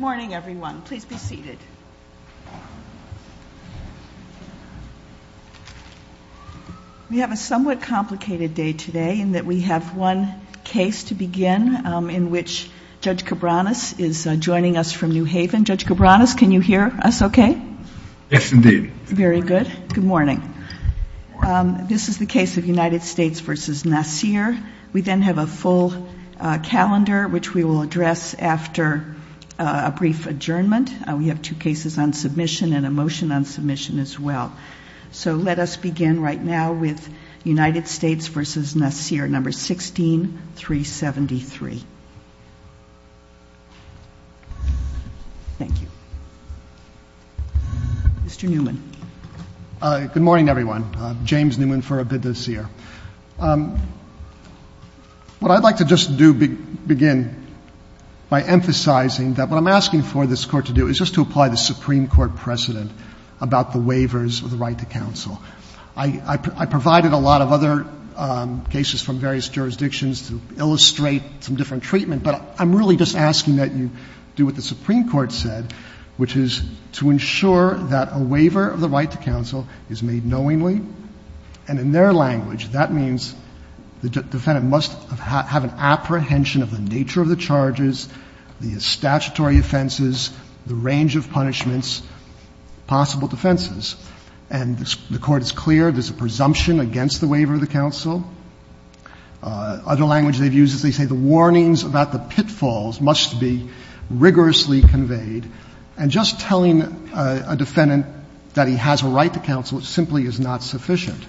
Good morning, everyone. Please be seated. We have a somewhat complicated day today in that we have one case to begin in which Judge Cabranes is joining us from New Haven. Judge Cabranes, can you hear us okay? Yes, indeed. Very good. Good morning. This is the case of United States v. Nasir. We then have a full calendar, which we will address after a brief adjournment. We have two cases on submission and a motion on submission as well. So let us begin right now with United States v. Nasir, No. 16, 373. Thank you. Mr. Newman. Good morning, everyone. James Newman for A Bid, Nasir. What I'd like to just do begin by emphasizing that what I'm asking for this Court to do is just to apply the Supreme Court precedent about the waivers of the right to counsel. I provided a lot of other cases from various jurisdictions to illustrate some different treatment, but I'm really just asking that you do what the Supreme Court said, which is to ensure that a waiver of the right to counsel is made knowingly. And in their language, that means the defendant must have an apprehension of the nature of the charges, the statutory offenses, the range of punishments, possible defenses. And the Court is clear there's a presumption against the waiver of the counsel. Other language they've used is they say the warnings about the pitfalls must be rigorously conveyed. And just telling a defendant that he has a right to counsel simply is not sufficient.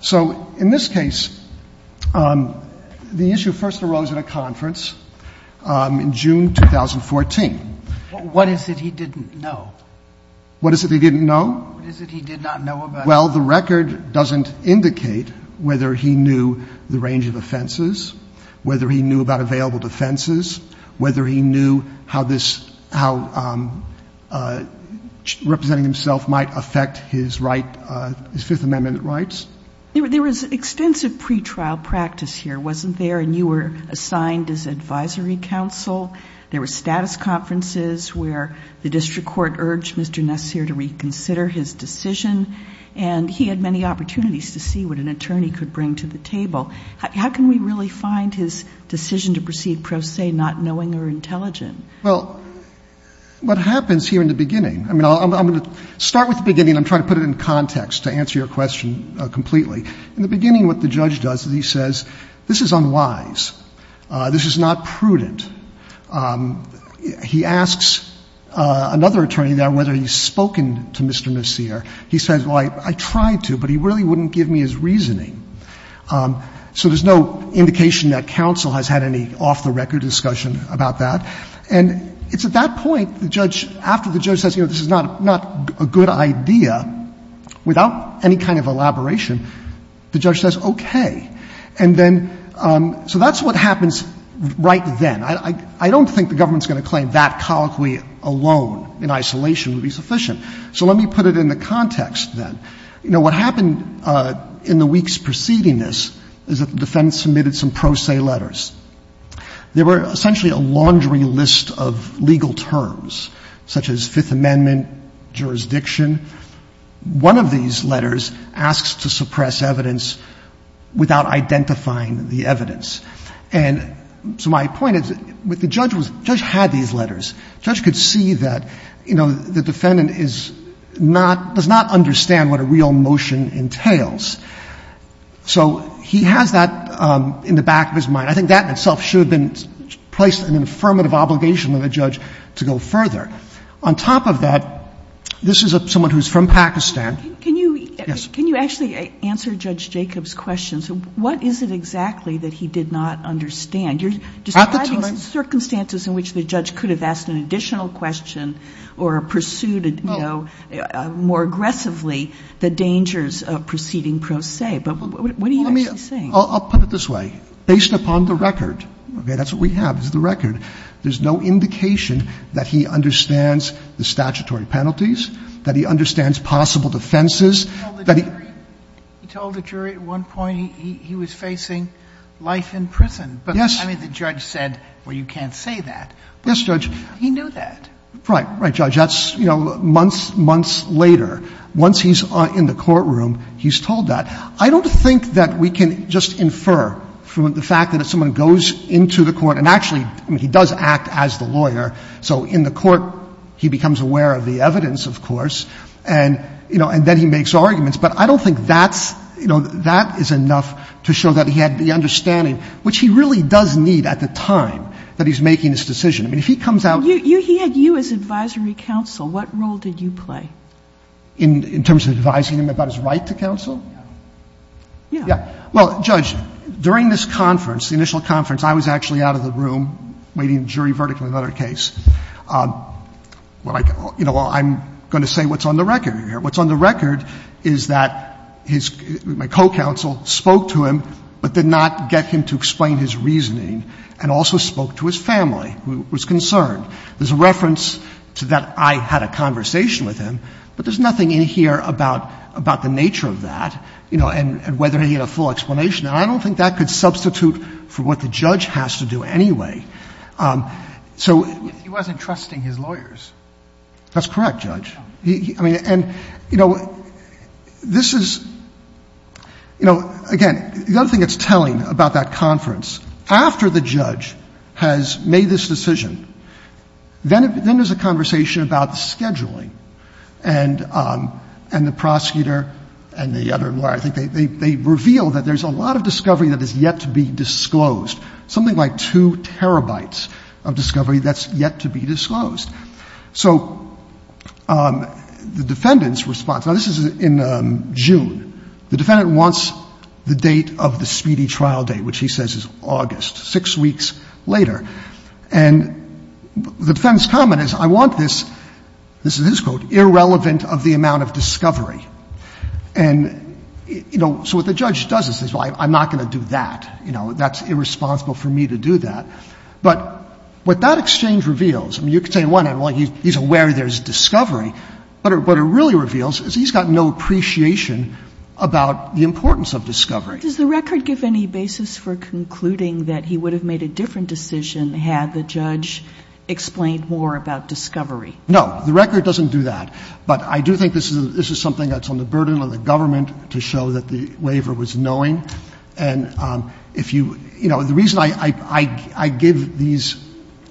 So in this case, the issue first arose at a conference in June 2014. What is it he didn't know? What is it he didn't know? What is it he did not know about it? Well, the record doesn't indicate whether he knew the range of offenses, whether he knew about available defenses, whether he knew how this — how representing himself might affect his right — his Fifth Amendment rights. There was extensive pretrial practice here, wasn't there? And you were assigned as advisory counsel. There were status conferences where the district court urged Mr. Nassir to reconsider his decision. And he had many opportunities to see what an attorney could bring to the table. How can we really find his decision to proceed pro se, not knowing or intelligent? Well, what happens here in the beginning — I mean, I'm going to start with the beginning. I'm trying to put it in context to answer your question completely. In the beginning, what the judge does is he says, this is unwise. This is not prudent. He asks another attorney now whether he's spoken to Mr. Nassir. He says, well, I tried to, but he really wouldn't give me his reasoning. So there's no indication that counsel has had any off-the-record discussion about that. And it's at that point, the judge — after the judge says, you know, this is not a good idea, without any kind of elaboration, the judge says, okay. And then — so that's what happens right then. I don't think the government's going to claim that colloquy alone in isolation would be sufficient. So let me put it in the context then. You know, what happened in the weeks preceding this is that the defendant submitted some pro se letters. There were essentially a laundry list of legal terms, such as Fifth Amendment, jurisdiction. One of these letters asks to suppress evidence without identifying the evidence. And so my point is, what the judge was — the judge had these letters. The judge could see that, you know, the defendant is not — does not understand what a real motion entails. So he has that in the back of his mind. I think that in itself should have been placed in an affirmative obligation on the judge to go further. On top of that, this is someone who is from Pakistan. Yes. Can you — can you actually answer Judge Jacob's question? What is it exactly that he did not understand? You're describing circumstances in which the judge could have asked an additional question or pursued, you know, more aggressively the dangers of preceding pro se. But what are you actually saying? Let me — I'll put it this way. Based upon the record — okay, that's what we have, is the record — there's no indication that he understands the statutory penalties, that he understands possible defenses, that he — He told the jury — he told the jury at one point he was facing life in prison. Yes. But, I mean, the judge said, well, you can't say that. Yes, Judge. He knew that. Right. Right, Judge. That's, you know, months, months later. Once he's in the courtroom, he's told that. I don't think that we can just infer from the fact that if someone goes into the court — and actually, I mean, he does act as the lawyer. So in the court, he becomes aware of the evidence, of course, and, you know, and then he makes arguments. But I don't think that's — you know, that is enough to show that he had the understanding, which he really does need at the time that he's making this decision. I mean, if he comes out — You — he had you as advisory counsel. What role did you play? In terms of advising him about his right to counsel? Yeah. Yeah. Well, Judge, during this conference, the initial conference, I was actually out of the room, waiting in jury vertical in another case. You know, I'm going to say what's on the record here. What's on the record is that his — my co-counsel spoke to him, but did not get him to explain his reasoning, and also spoke to his family, who was concerned. There's a reference to that I had a conversation with him, but there's nothing in here about — about the nature of that, you know, and whether he had a full explanation. And I don't think that could substitute for what the judge has to do anyway. So — If he wasn't trusting his lawyers. That's correct, Judge. I mean, and, you know, this is — you know, again, the other thing that's telling about that conference, after the judge has made this decision, then there's a conversation about the scheduling. And — and the prosecutor and the other lawyer, I think they — they reveal that there's a lot of discovery that has yet to be disclosed. Something like two terabytes of discovery that's yet to be disclosed. So the defendant's response — now, this is in June. The defendant wants the date of the speedy trial date, which he says is August, six weeks later. And the defendant's comment is, I want this — this is his quote, irrelevant of the amount of discovery. And, you know, so what the judge does is says, well, I'm not going to do that. You know, that's irresponsible for me to do that. But what that exchange reveals — I mean, you could say, well, he's aware there's discovery. But what it really reveals is he's got no appreciation about the importance of discovery. Does the record give any basis for concluding that he would have made a different decision had the judge explained more about discovery? No. The record doesn't do that. But I do think this is — this is something that's on the burden of the government to show that the waiver was knowing. And if you — you know, the reason I give these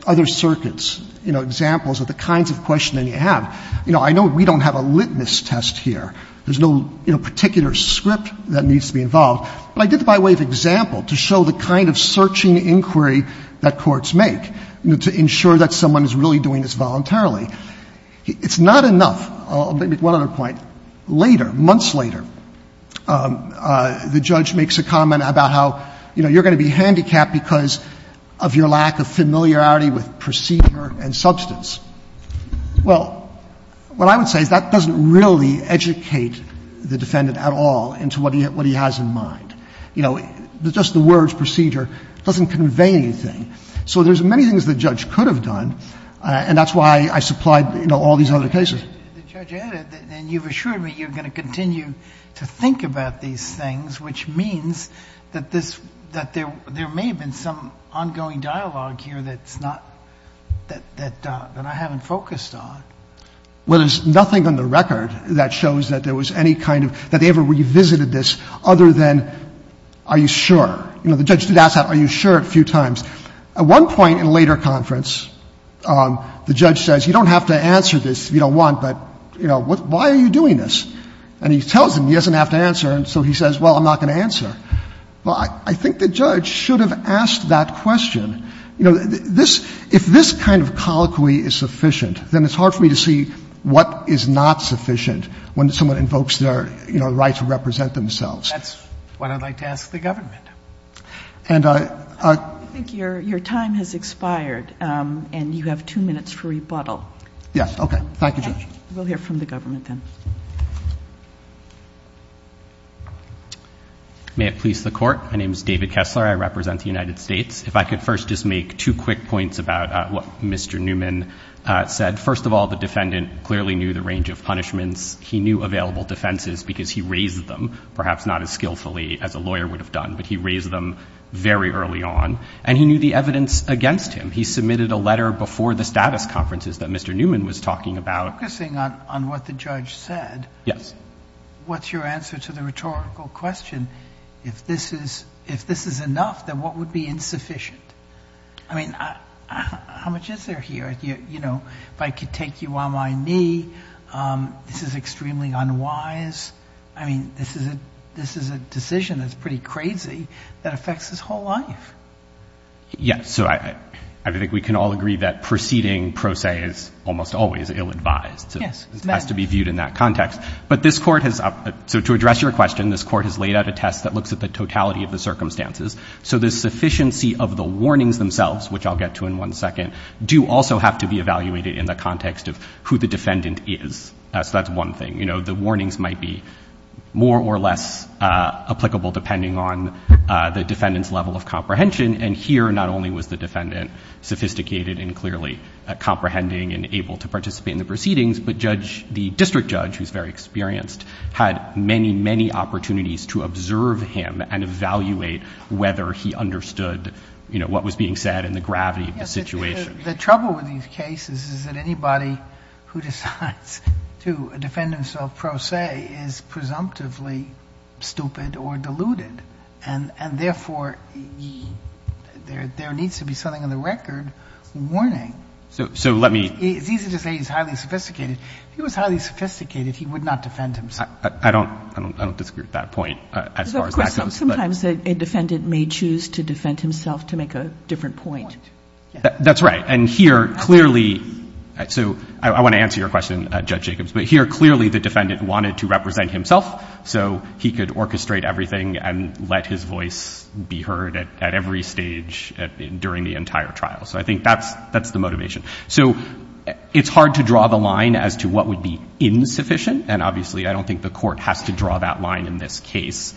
other circuits, you know, examples of the kinds of questioning you have — you know, I know we don't have a litmus test here. There's no particular script that needs to be involved. But I did the by way of example to show the kind of searching inquiry that courts make to ensure that someone is really doing this voluntarily. It's not enough. I'll make one other point. Later, months later, the judge makes a comment about how, you know, you're going to be handicapped because of your lack of familiarity with procedure and substance. Well, what I would say is that doesn't really educate the defendant at all into what he has in mind. You know, just the words procedure doesn't convey anything. So there's many things the judge could have done, and that's why I supplied, you know, all these other cases. The judge added, and you've assured me, you're going to continue to think about these things, which means that this — that there may have been some ongoing dialogue here that's not — that I haven't focused on. Well, there's nothing on the record that shows that there was any kind of — that they ever revisited this other than are you sure. You know, the judge did ask that, are you sure, a few times. At one point in a later conference, the judge says, you don't have to answer this if you don't want, but, you know, why are you doing this? And he tells him he doesn't have to answer, and so he says, well, I'm not going to answer. Well, I think the judge should have asked that question. You know, this — if this kind of colloquy is sufficient, then it's hard for me to see what is not sufficient when someone invokes their, you know, right to represent themselves. That's what I'd like to ask the government. And I — I think your time has expired, and you have two minutes for rebuttal. Yes, okay. Thank you, Judge. We'll hear from the government then. May it please the Court. My name is David Kessler. I represent the United States. If I could first just make two quick points about what Mr. Newman said. First of all, the defendant clearly knew the range of punishments. He knew available defenses because he raised them, perhaps not as skillfully as a lawyer would have done, but he raised them very early on. And he knew the evidence against him. He submitted a letter before the status conferences that Mr. Newman was talking about. Focusing on what the judge said. Yes. What's your answer to the rhetorical question? If this is — if this is enough, then what would be insufficient? I mean, how much is there here? You know, if I could take you on my knee, this is extremely unwise. I mean, this is a decision that's pretty crazy that affects his whole life. Yes. So I think we can all agree that proceeding pro se is almost always ill-advised. Yes. It has to be viewed in that context. But this Court has — so to address your question, this Court has laid out a test that looks at the totality of the circumstances. So the sufficiency of the warnings themselves, which I'll get to in one second, do also have to be evaluated in the context of who the defendant is. So that's one thing. You know, the warnings might be more or less applicable depending on the defendant's level of comprehension. And here, not only was the defendant sophisticated and clearly comprehending and able to participate in the proceedings, but judge — the district judge, who's very experienced, had many, many opportunities to observe him and evaluate whether he understood, you know, what was being said and the gravity of the situation. The trouble with these cases is that anybody who decides to defend himself pro se is presumptively stupid or deluded. And therefore, there needs to be something on the record warning. So let me — It's easy to say he's highly sophisticated. If he was highly sophisticated, he would not defend himself. I don't — I don't disagree with that point as far as that goes. Sometimes a defendant may choose to defend himself to make a different point. That's right. And here, clearly — so I want to answer your question, Judge Jacobs. But here, clearly, the defendant wanted to represent himself so he could orchestrate everything and let his voice be heard at every stage during the entire trial. So I think that's — that's the motivation. So it's hard to draw the line as to what would be insufficient. And obviously, I don't think the Court has to draw that line in this case.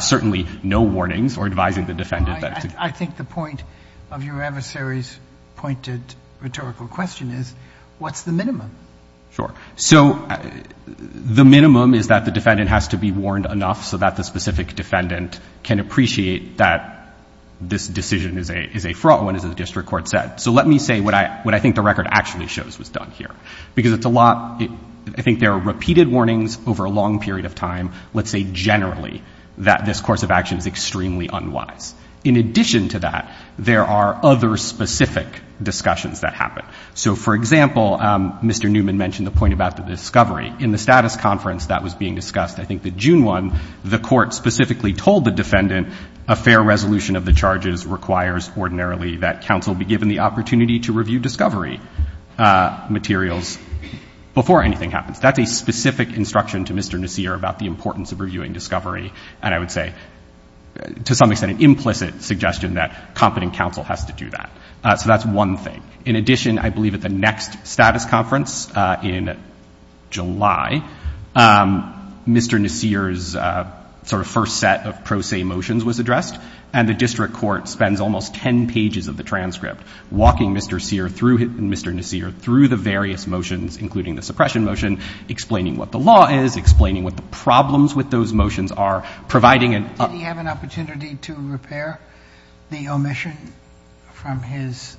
Certainly, no warnings or advising the defendant that — I think the point of your adversary's pointed rhetorical question is, what's the minimum? Sure. So the minimum is that the defendant has to be warned enough so that the specific defendant can appreciate that this decision is a — is a fraught one, as the district court said. So let me say what I — what I think the record actually shows was done here. Because it's a lot — I think there are repeated warnings over a long period of time, let's say generally, that this course of action is extremely unwise. In addition to that, there are other specific discussions that happen. So, for example, Mr. Newman mentioned the point about the discovery. In the status conference that was being discussed, I think the June one, the Court specifically told the defendant a fair resolution of the charges requires ordinarily that counsel be given the opportunity to review discovery materials before anything happens. That's a specific instruction to Mr. Nasir about the importance of reviewing discovery. And I would say, to some extent, an implicit suggestion that competent counsel has to do that. So that's one thing. In addition, I believe at the next status conference in July, Mr. Nasir's sort of first set of pro se motions was addressed. And the district court spends almost 10 pages of the transcript walking Mr. Nasir through the various motions, including the suppression motion, explaining what the law is, explaining what the problems with those motions are, providing an opportunity. Did he have an opportunity to repair the omission from his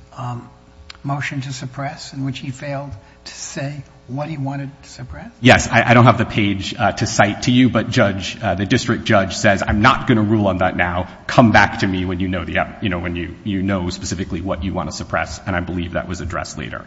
motion to suppress, in which he failed to say what he wanted to suppress? Yes. I don't have the page to cite to you, but the district judge says, I'm not going to rule on that now. Come back to me when you know specifically what you want to suppress. And I believe that was addressed later.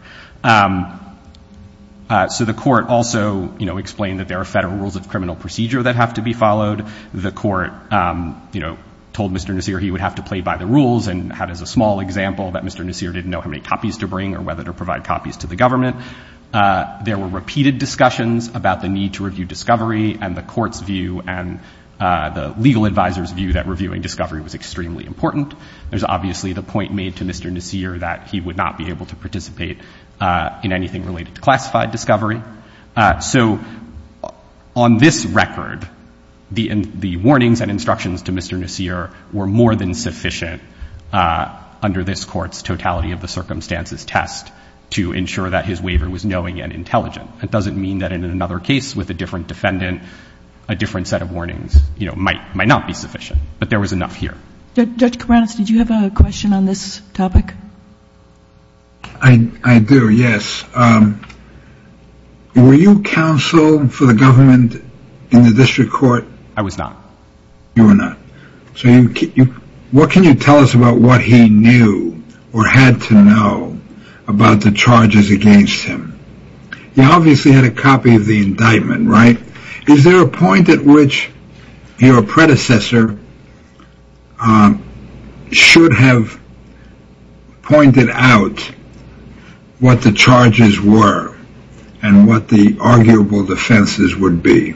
So the court also explained that there are federal rules of criminal procedure that have to be followed. The court told Mr. Nasir he would have to play by the rules, and had as a small example that Mr. Nasir didn't know how many copies to bring or whether to provide copies to the government. There were repeated discussions about the need to review discovery, and the court's view and the legal advisor's view that reviewing discovery was extremely important. There's obviously the point made to Mr. Nasir that he would not be able to participate in anything related to classified discovery. So on this record, the warnings and instructions to Mr. Nasir were more than sufficient, under this court's totality of the circumstances test, to ensure that his waiver was knowing and intelligent. That doesn't mean that in another case with a different defendant, a different set of warnings might not be sufficient. But there was enough here. Judge Karanis, did you have a question on this topic? I do, yes. Were you counsel for the government in the district court? I was not. You were not. So what can you tell us about what he knew or had to know about the charges against him? He obviously had a copy of the indictment, right? Is there a point at which your predecessor should have pointed out what the charges were and what the arguable defenses would be?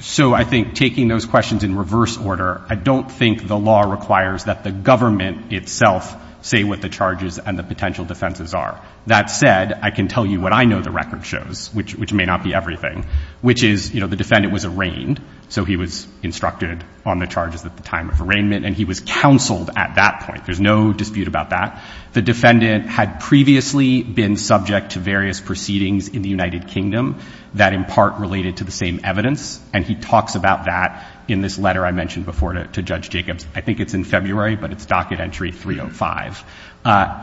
So I think taking those questions in reverse order, I don't think the law requires that the government itself say what the charges and the potential defenses are. That said, I can tell you what I know the record shows, which may not be everything, which is the defendant was arraigned, so he was instructed on the charges at the time of arraignment, and he was counseled at that point. There's no dispute about that. The defendant had previously been subject to various proceedings in the United Kingdom that in part related to the same evidence, and he talks about that in this letter I mentioned before to Judge Jacobs. I think it's in February, but it's docket entry 305.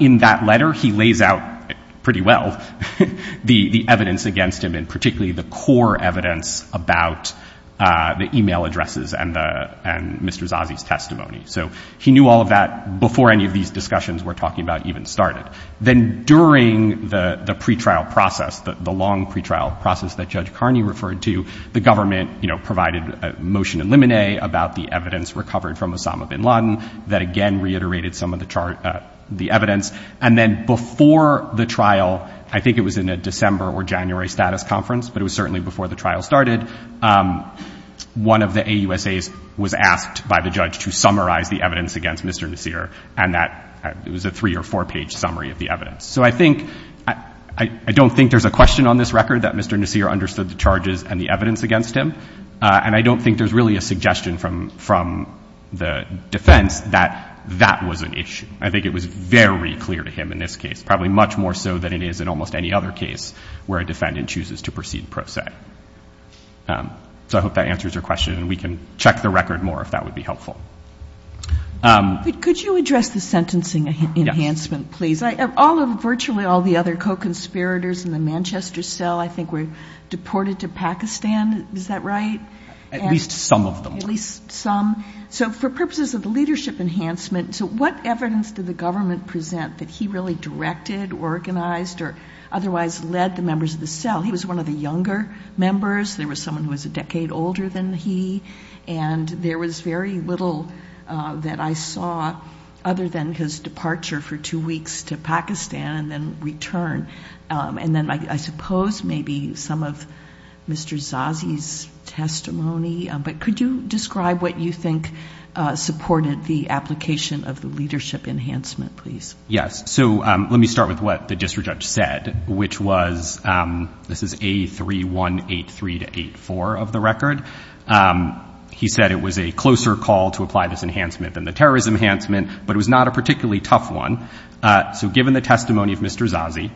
In that letter, he lays out pretty well the evidence against him and particularly the core evidence about the email addresses and Mr. Zazie's testimony. So he knew all of that before any of these discussions we're talking about even started. Then during the pretrial process, the long pretrial process that Judge Carney referred to, the government provided a motion in limine about the evidence recovered from Osama bin Laden that again reiterated some of the evidence. And then before the trial, I think it was in a December or January status conference, but it was certainly before the trial started, one of the AUSAs was asked by the judge to summarize the evidence against Mr. Nasir, and it was a three- or four-page summary of the evidence. So I don't think there's a question on this record that Mr. Nasir understood the charges and the evidence against him, and I don't think there's really a suggestion from the defense that that was an issue. I think it was very clear to him in this case, probably much more so than it is in almost any other case where a defendant chooses to proceed pro se. So I hope that answers your question, and we can check the record more if that would be helpful. Could you address the sentencing enhancement, please? Virtually all the other co-conspirators in the Manchester cell I think were deported to Pakistan. Is that right? At least some of them. At least some. So for purposes of the leadership enhancement, so what evidence did the government present that he really directed, organized, or otherwise led the members of the cell? He was one of the younger members. There was someone who was a decade older than he, and there was very little that I saw other than his departure for two weeks to Pakistan and then return. And then I suppose maybe some of Mr. Zazi's testimony, but could you describe what you think supported the application of the leadership enhancement, please? Yes. So let me start with what the district judge said, which was, this is A3183-84 of the record. He said it was a closer call to apply this enhancement than the terrorism enhancement, but it was not a particularly tough one. So given the testimony of Mr. Zazi,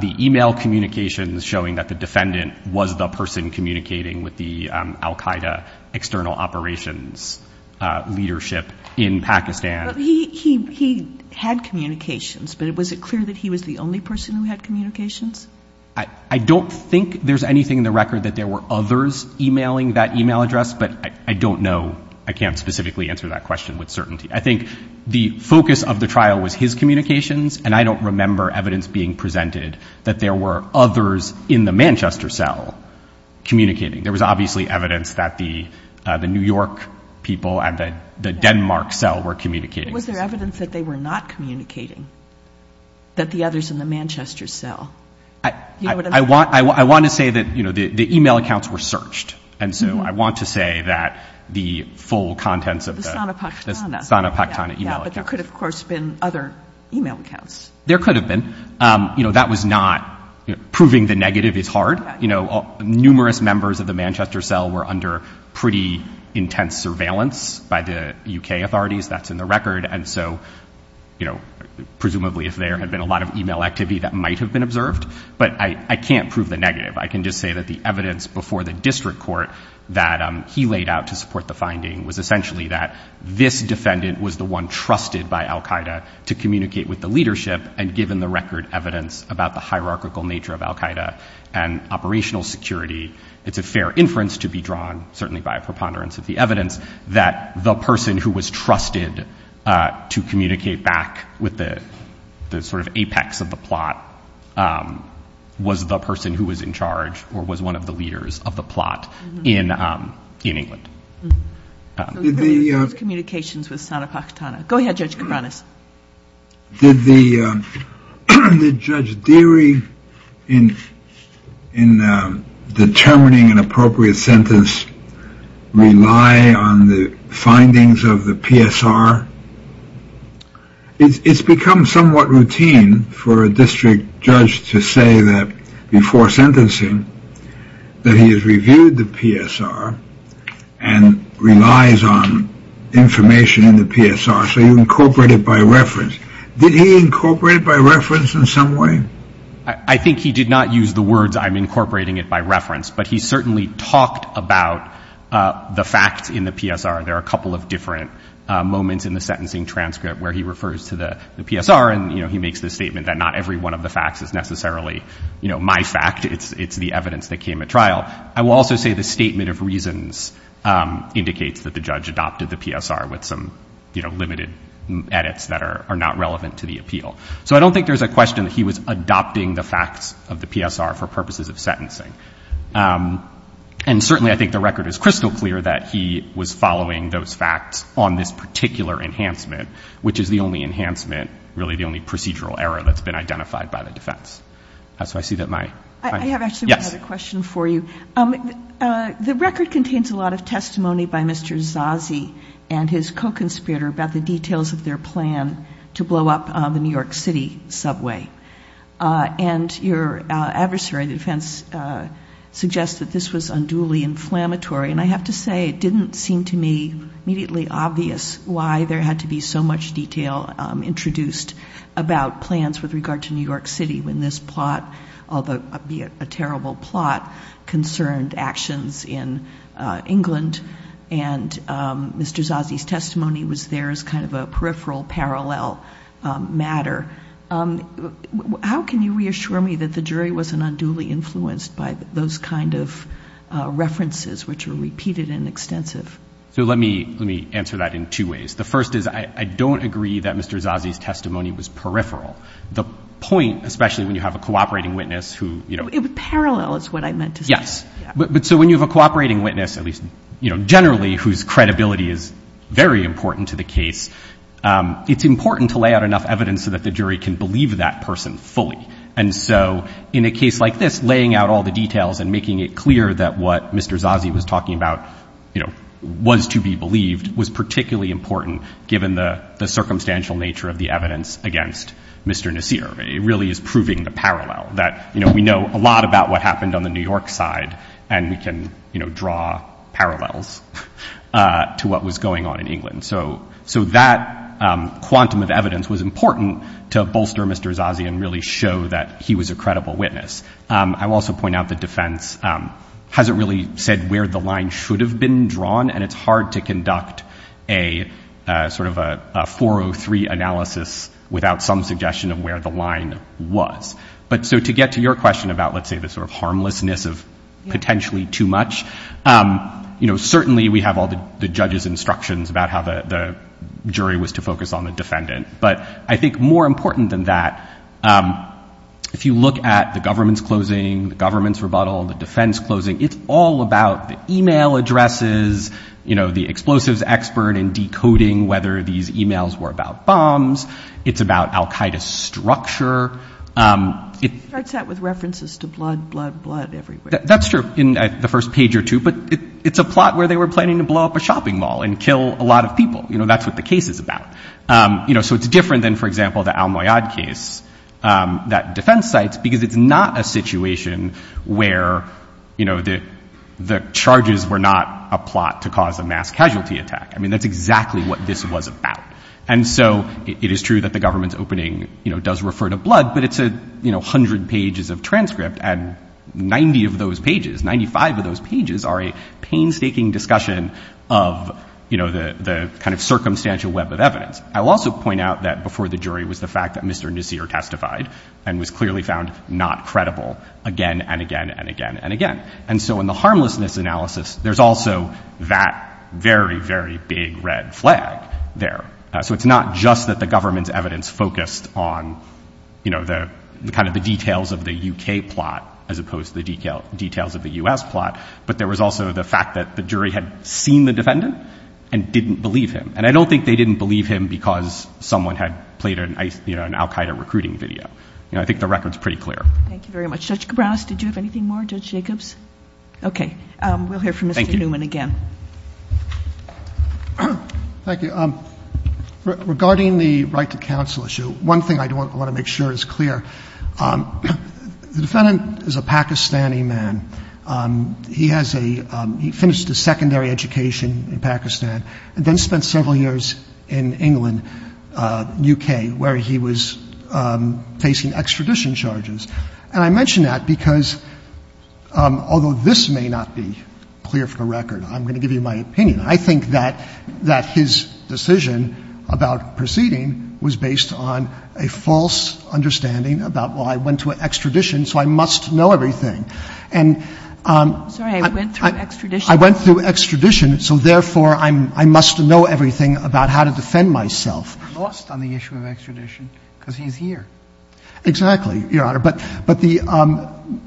the e-mail communications showing that the defendant was the person communicating with the al-Qaeda external operations leadership in Pakistan. He had communications, but was it clear that he was the only person who had communications? I don't think there's anything in the record that there were others e-mailing that e-mail address, but I don't know. I can't specifically answer that question with certainty. I think the focus of the trial was his communications, and I don't remember evidence being presented that there were others in the Manchester cell communicating. There was obviously evidence that the New York people and the Denmark cell were communicating. Was there evidence that they were not communicating, that the others in the Manchester cell? I want to say that the e-mail accounts were searched, and so I want to say that the full contents of the Sana Pakhtana e-mail accounts. But there could, of course, have been other e-mail accounts. There could have been. That was not proving the negative is hard. Numerous members of the Manchester cell were under pretty intense surveillance by the U.K. authorities. That's in the record, and so presumably if there had been a lot of e-mail activity, that might have been observed. But I can't prove the negative. I can just say that the evidence before the district court that he laid out to support the finding was essentially that this defendant was the one trusted by al Qaeda to communicate with the leadership, and given the record evidence about the hierarchical nature of al Qaeda and operational security, it's a fair inference to be drawn, certainly by a preponderance of the evidence, that the person who was trusted to communicate back with the sort of apex of the plot was the person who was in charge or was one of the leaders of the plot in England. Did the — Communications with Sana Pakhtana. Go ahead, Judge Cabranes. Did the judge Deary in in determining an appropriate sentence rely on the findings of the PSR? It's become somewhat routine for a district judge to say that before sentencing that he has reviewed the PSR and relies on information in the PSR. So you incorporate it by reference. Did he incorporate it by reference in some way? I think he did not use the words I'm incorporating it by reference, but he certainly talked about the facts in the PSR. There are a couple of different moments in the sentencing transcript where he refers to the PSR, and, you know, he makes the statement that not every one of the facts is necessarily, you know, my fact. It's the evidence that came at trial. I will also say the statement of reasons indicates that the judge adopted the PSR with some, you know, limited edits that are not relevant to the appeal. So I don't think there's a question that he was adopting the facts of the PSR for purposes of sentencing. And certainly I think the record is crystal clear that he was following those facts on this particular enhancement, which is the only enhancement, really the only procedural error that's been identified by the defense. So I see that my — The record contains a lot of testimony by Mr. Zazi and his co-conspirator about the details of their plan to blow up the New York City subway. And your adversary, the defense, suggests that this was unduly inflammatory, and I have to say it didn't seem to me immediately obvious why there had to be so much detail introduced about plans with regard to New York City when this plot, albeit a terrible plot, concerned actions in England, and Mr. Zazi's testimony was there as kind of a peripheral parallel matter. How can you reassure me that the jury wasn't unduly influenced by those kind of references, which were repeated and extensive? So let me answer that in two ways. The first is I don't agree that Mr. Zazi's testimony was peripheral. The point, especially when you have a cooperating witness who — Parallel is what I meant to say. Yes. But so when you have a cooperating witness, at least generally, whose credibility is very important to the case, it's important to lay out enough evidence so that the jury can believe that person fully. And so in a case like this, laying out all the details and making it clear that what Mr. Zazi was talking about, you know, was to be believed was particularly important given the circumstantial nature of the evidence against Mr. Nasir. It really is proving the parallel that, you know, we know a lot about what happened on the New York side, and we can, you know, draw parallels to what was going on in England. So that quantum of evidence was important to bolster Mr. Zazi and really show that he was a credible witness. I will also point out the defense hasn't really said where the line should have been drawn, and it's hard to conduct a sort of a 403 analysis without some suggestion of where the line was. But so to get to your question about, let's say, the sort of harmlessness of potentially too much, you know, certainly we have all the judge's instructions about how the jury was to focus on the defendant. But I think more important than that, if you look at the government's closing, the government's rebuttal, the defense closing, it's all about the e-mail addresses, you know, the explosives expert and decoding whether these e-mails were about bombs. It's about al Qaeda structure. It starts out with references to blood, blood, blood everywhere. That's true in the first page or two, but it's a plot where they were planning to blow up a shopping mall and kill a lot of people. You know, that's what the case is about. You know, so it's different than, for example, the Al-Moyad case that defense cites, because it's not a situation where, you know, the charges were not a plot to cause a mass casualty attack. I mean, that's exactly what this was about. And so it is true that the government's opening, you know, does refer to blood, but it's, you know, 100 pages of transcript and 90 of those pages, 95 of those pages are a painstaking discussion of, you know, the kind of circumstantial web of evidence. I'll also point out that before the jury was the fact that Mr. Nasir testified and was clearly found not credible again and again and again and again. And so in the harmlessness analysis, there's also that very, very big red flag there. So it's not just that the government's evidence focused on, you know, the kind of the details of the U.K. plot as opposed to the details of the U.S. plot, but there was also the fact that the jury had seen the defendant and didn't believe him. And I don't think they didn't believe him because someone had played an Al-Qaeda recruiting video. You know, I think the record's pretty clear. Thank you very much. Judge Cabranes, did you have anything more? Judge Jacobs? Okay. We'll hear from Mr. Newman again. Thank you. Thank you. Regarding the right to counsel issue, one thing I want to make sure is clear. The defendant is a Pakistani man. He has a — he finished a secondary education in Pakistan and then spent several years in England, U.K., where he was facing extradition charges. And I mention that because although this may not be clear from the record, I'm going to give you my opinion, I think that his decision about proceeding was based on a false understanding about, well, I went to extradition, so I must know everything. And — I'm sorry. I went through extradition. I went through extradition, so therefore I must know everything about how to defend myself. He lost on the issue of extradition because he's here. Exactly, Your Honor. But the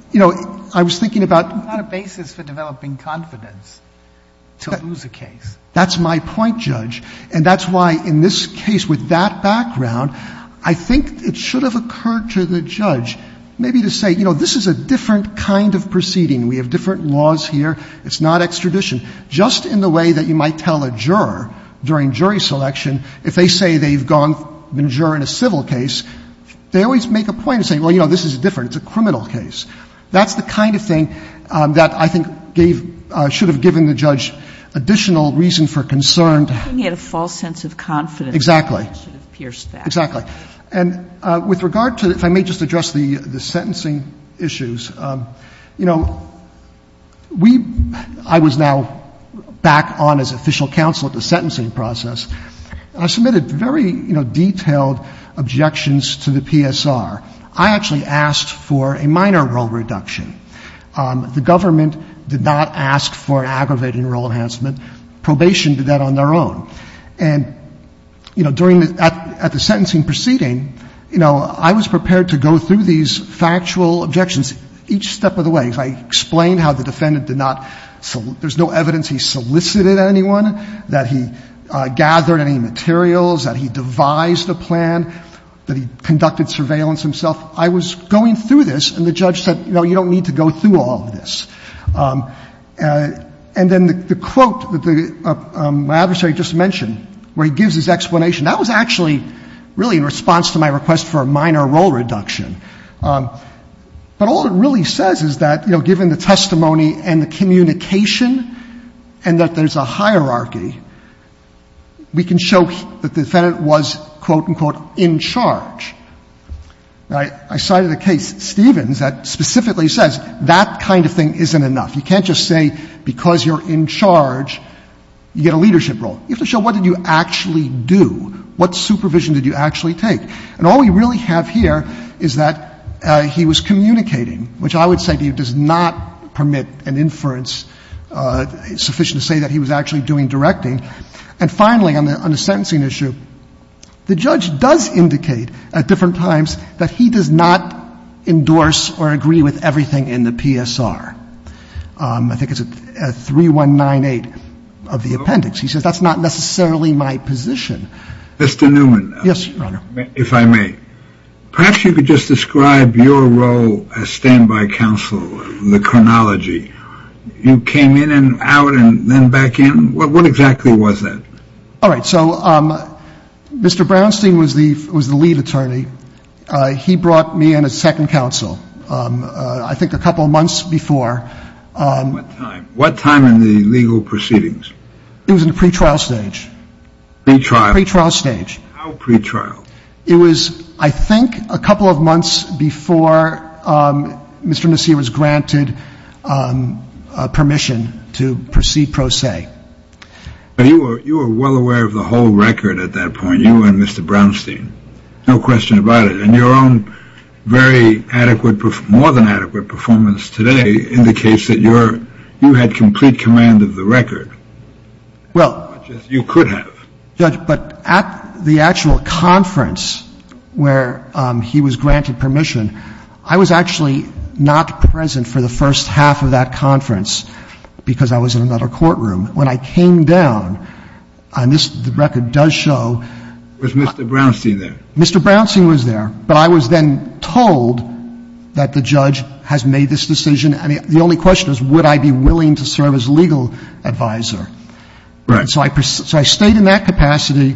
— you know, I was thinking about — What about a basis for developing confidence to lose a case? That's my point, Judge. And that's why in this case with that background, I think it should have occurred to the judge maybe to say, you know, this is a different kind of proceeding. We have different laws here. It's not extradition. Just in the way that you might tell a juror during jury selection, if they say they've gone — been a juror in a civil case, they always make a point of saying, well, you know, this is different. It's a criminal case. That's the kind of thing that I think gave — should have given the judge additional reason for concern. He had a false sense of confidence. Exactly. It should have pierced that. Exactly. And with regard to — if I may just address the sentencing issues, you know, we — I was now back on as official counsel at the sentencing process. I submitted very, you know, detailed objections to the PSR. I actually asked for a minor role reduction. The government did not ask for an aggravated enroll enhancement. Probation did that on their own. And, you know, during the — at the sentencing proceeding, you know, I was prepared to go through these factual objections each step of the way. I explained how the defendant did not — there's no evidence he solicited anyone, that he gathered any materials, that he devised a plan, that he conducted surveillance himself. I was going through this, and the judge said, you know, you don't need to go through all of this. And then the quote that my adversary just mentioned, where he gives his explanation, that was actually really in response to my request for a minor role reduction. But all it really says is that, you know, given the testimony and the communication and that there's a hierarchy, we can show that the defendant was, quote, unquote, in charge. Now, I cited a case, Stevens, that specifically says that kind of thing isn't enough. You can't just say because you're in charge, you get a leadership role. You have to show what did you actually do. What supervision did you actually take? And all we really have here is that he was communicating, which I would say to you does not permit an inference sufficient to say that he was actually doing directing. And finally, on the sentencing issue, the judge does indicate at different times that he does not endorse or agree with everything in the PSR. I think it's 3198 of the appendix. He says that's not necessarily my position. Mr. Newman. Yes, Your Honor. If I may. Perhaps you could just describe your role as standby counsel in the chronology. You came in and out and then back in. What exactly was that? All right. So Mr. Brownstein was the lead attorney. He brought me in as second counsel, I think a couple of months before. What time? What time in the legal proceedings? It was in the pretrial stage. Pretrial? Pretrial stage. How pretrial? It was, I think, a couple of months before Mr. Nassir was granted permission to proceed pro se. But you were well aware of the whole record at that point, you and Mr. Brownstein. No question about it. And your own very adequate, more than adequate performance today indicates that you had complete command of the record. Well. As much as you could have. Judge, but at the actual conference where he was granted permission, I was actually not present for the first half of that conference because I was in another courtroom. When I came down, and this record does show. Was Mr. Brownstein there? Mr. Brownstein was there. But I was then told that the judge has made this decision. I mean, the only question is would I be willing to serve as legal advisor. Right. So I stayed in that capacity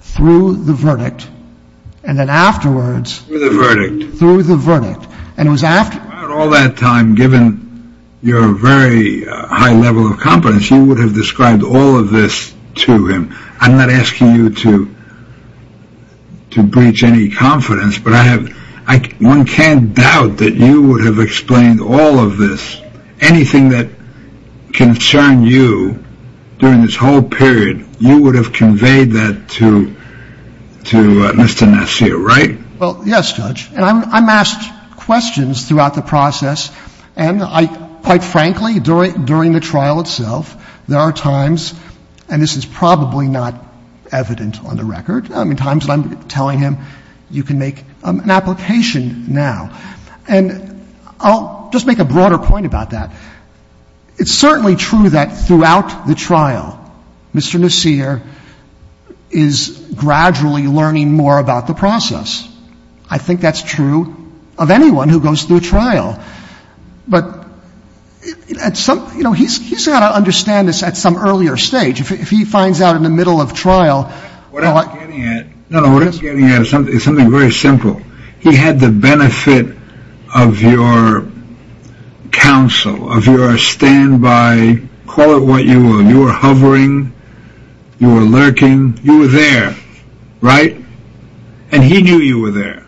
through the verdict. And then afterwards. Through the verdict. Through the verdict. And it was after. All that time, given your very high level of confidence, you would have described all of this to him. I'm not asking you to. To breach any confidence, but I have. One can't doubt that you would have explained all of this. Anything that concerned you during this whole period, you would have conveyed that to. To Mr. Nassir, right? Well, yes, Judge. And I'm asked questions throughout the process. And I, quite frankly, during the trial itself, there are times, and this is probably not evident on the record, times that I'm telling him you can make an application now. And I'll just make a broader point about that. It's certainly true that throughout the trial, Mr. Nassir is gradually learning more about the process. I think that's true of anyone who goes through trial. But he's got to understand this at some earlier stage. If he finds out in the middle of trial. What I'm getting at is something very simple. He had the benefit of your counsel, of your standby. Call it what you will. You were hovering. You were lurking. You were there. Right? And he knew you were there.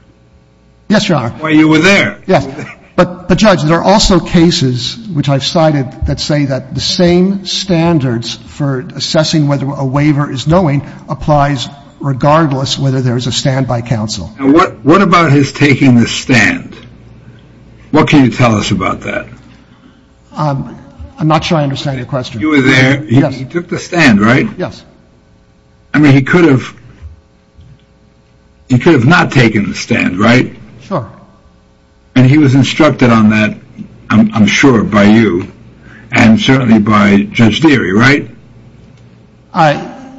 Yes, Your Honor. Why, you were there. Yes. But, Judge, there are also cases, which I've cited, that say that the same standards for assessing whether a waiver is knowing applies regardless whether there is a standby counsel. Now, what about his taking the stand? What can you tell us about that? I'm not sure I understand your question. You were there. Yes. He took the stand, right? Yes. I mean, he could have not taken the stand, right? Sure. And he was instructed on that, I'm sure, by you and certainly by Judge Deary, right?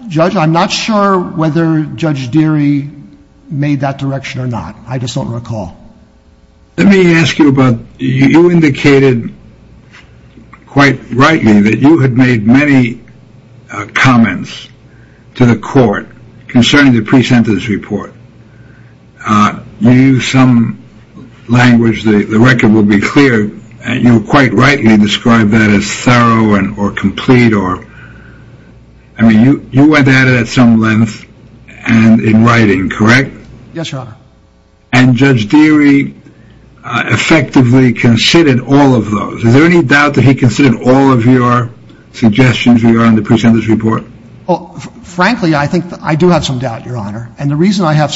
Judge, I'm not sure whether Judge Deary made that direction or not. I just don't recall. Let me ask you about, you indicated quite rightly that you had made many comments to the court concerning the pre-sentence report. You used some language, the record will be clear, and you quite rightly described that as thorough or complete or, I mean, you went at it at some length in writing, correct? Yes, Your Honor. And Judge Deary effectively considered all of those. Is there any doubt that he considered all of your suggestions in the pre-sentence report? Frankly, I think I do have some doubt, Your Honor. And the reason I have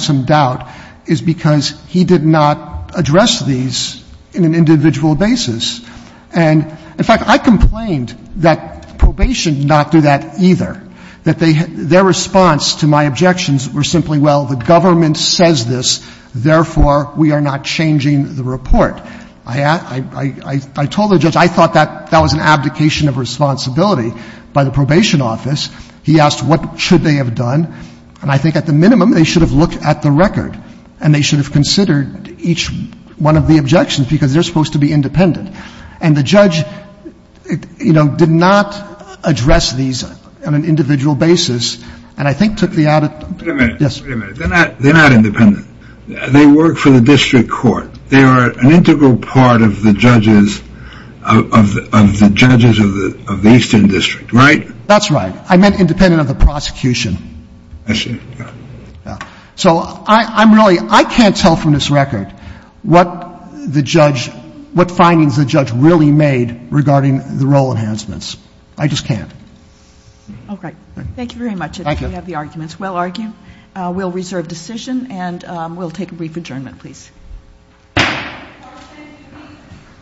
some doubt is because he did not address these in an individual basis. And, in fact, I complained that probation did not do that either, that their response to my objections were simply, well, the government says this, therefore, we are not changing the report. I told the judge I thought that that was an abdication of responsibility by the probation office. He asked what should they have done. And I think at the minimum, they should have looked at the record and they should have considered each one of the objections because they're supposed to be independent. And the judge, you know, did not address these on an individual basis and I think took Wait a minute. They're not independent. They work for the district court. They are an integral part of the judges of the eastern district, right? That's right. I meant independent of the prosecution. I see. Yeah. So I'm really — I can't tell from this record what the judge — what findings the judge really made regarding the role enhancements. I just can't. Okay. Thank you very much. I appreciate that you have the arguments. Well argued. We'll reserve decision and we'll take a brief adjournment, please.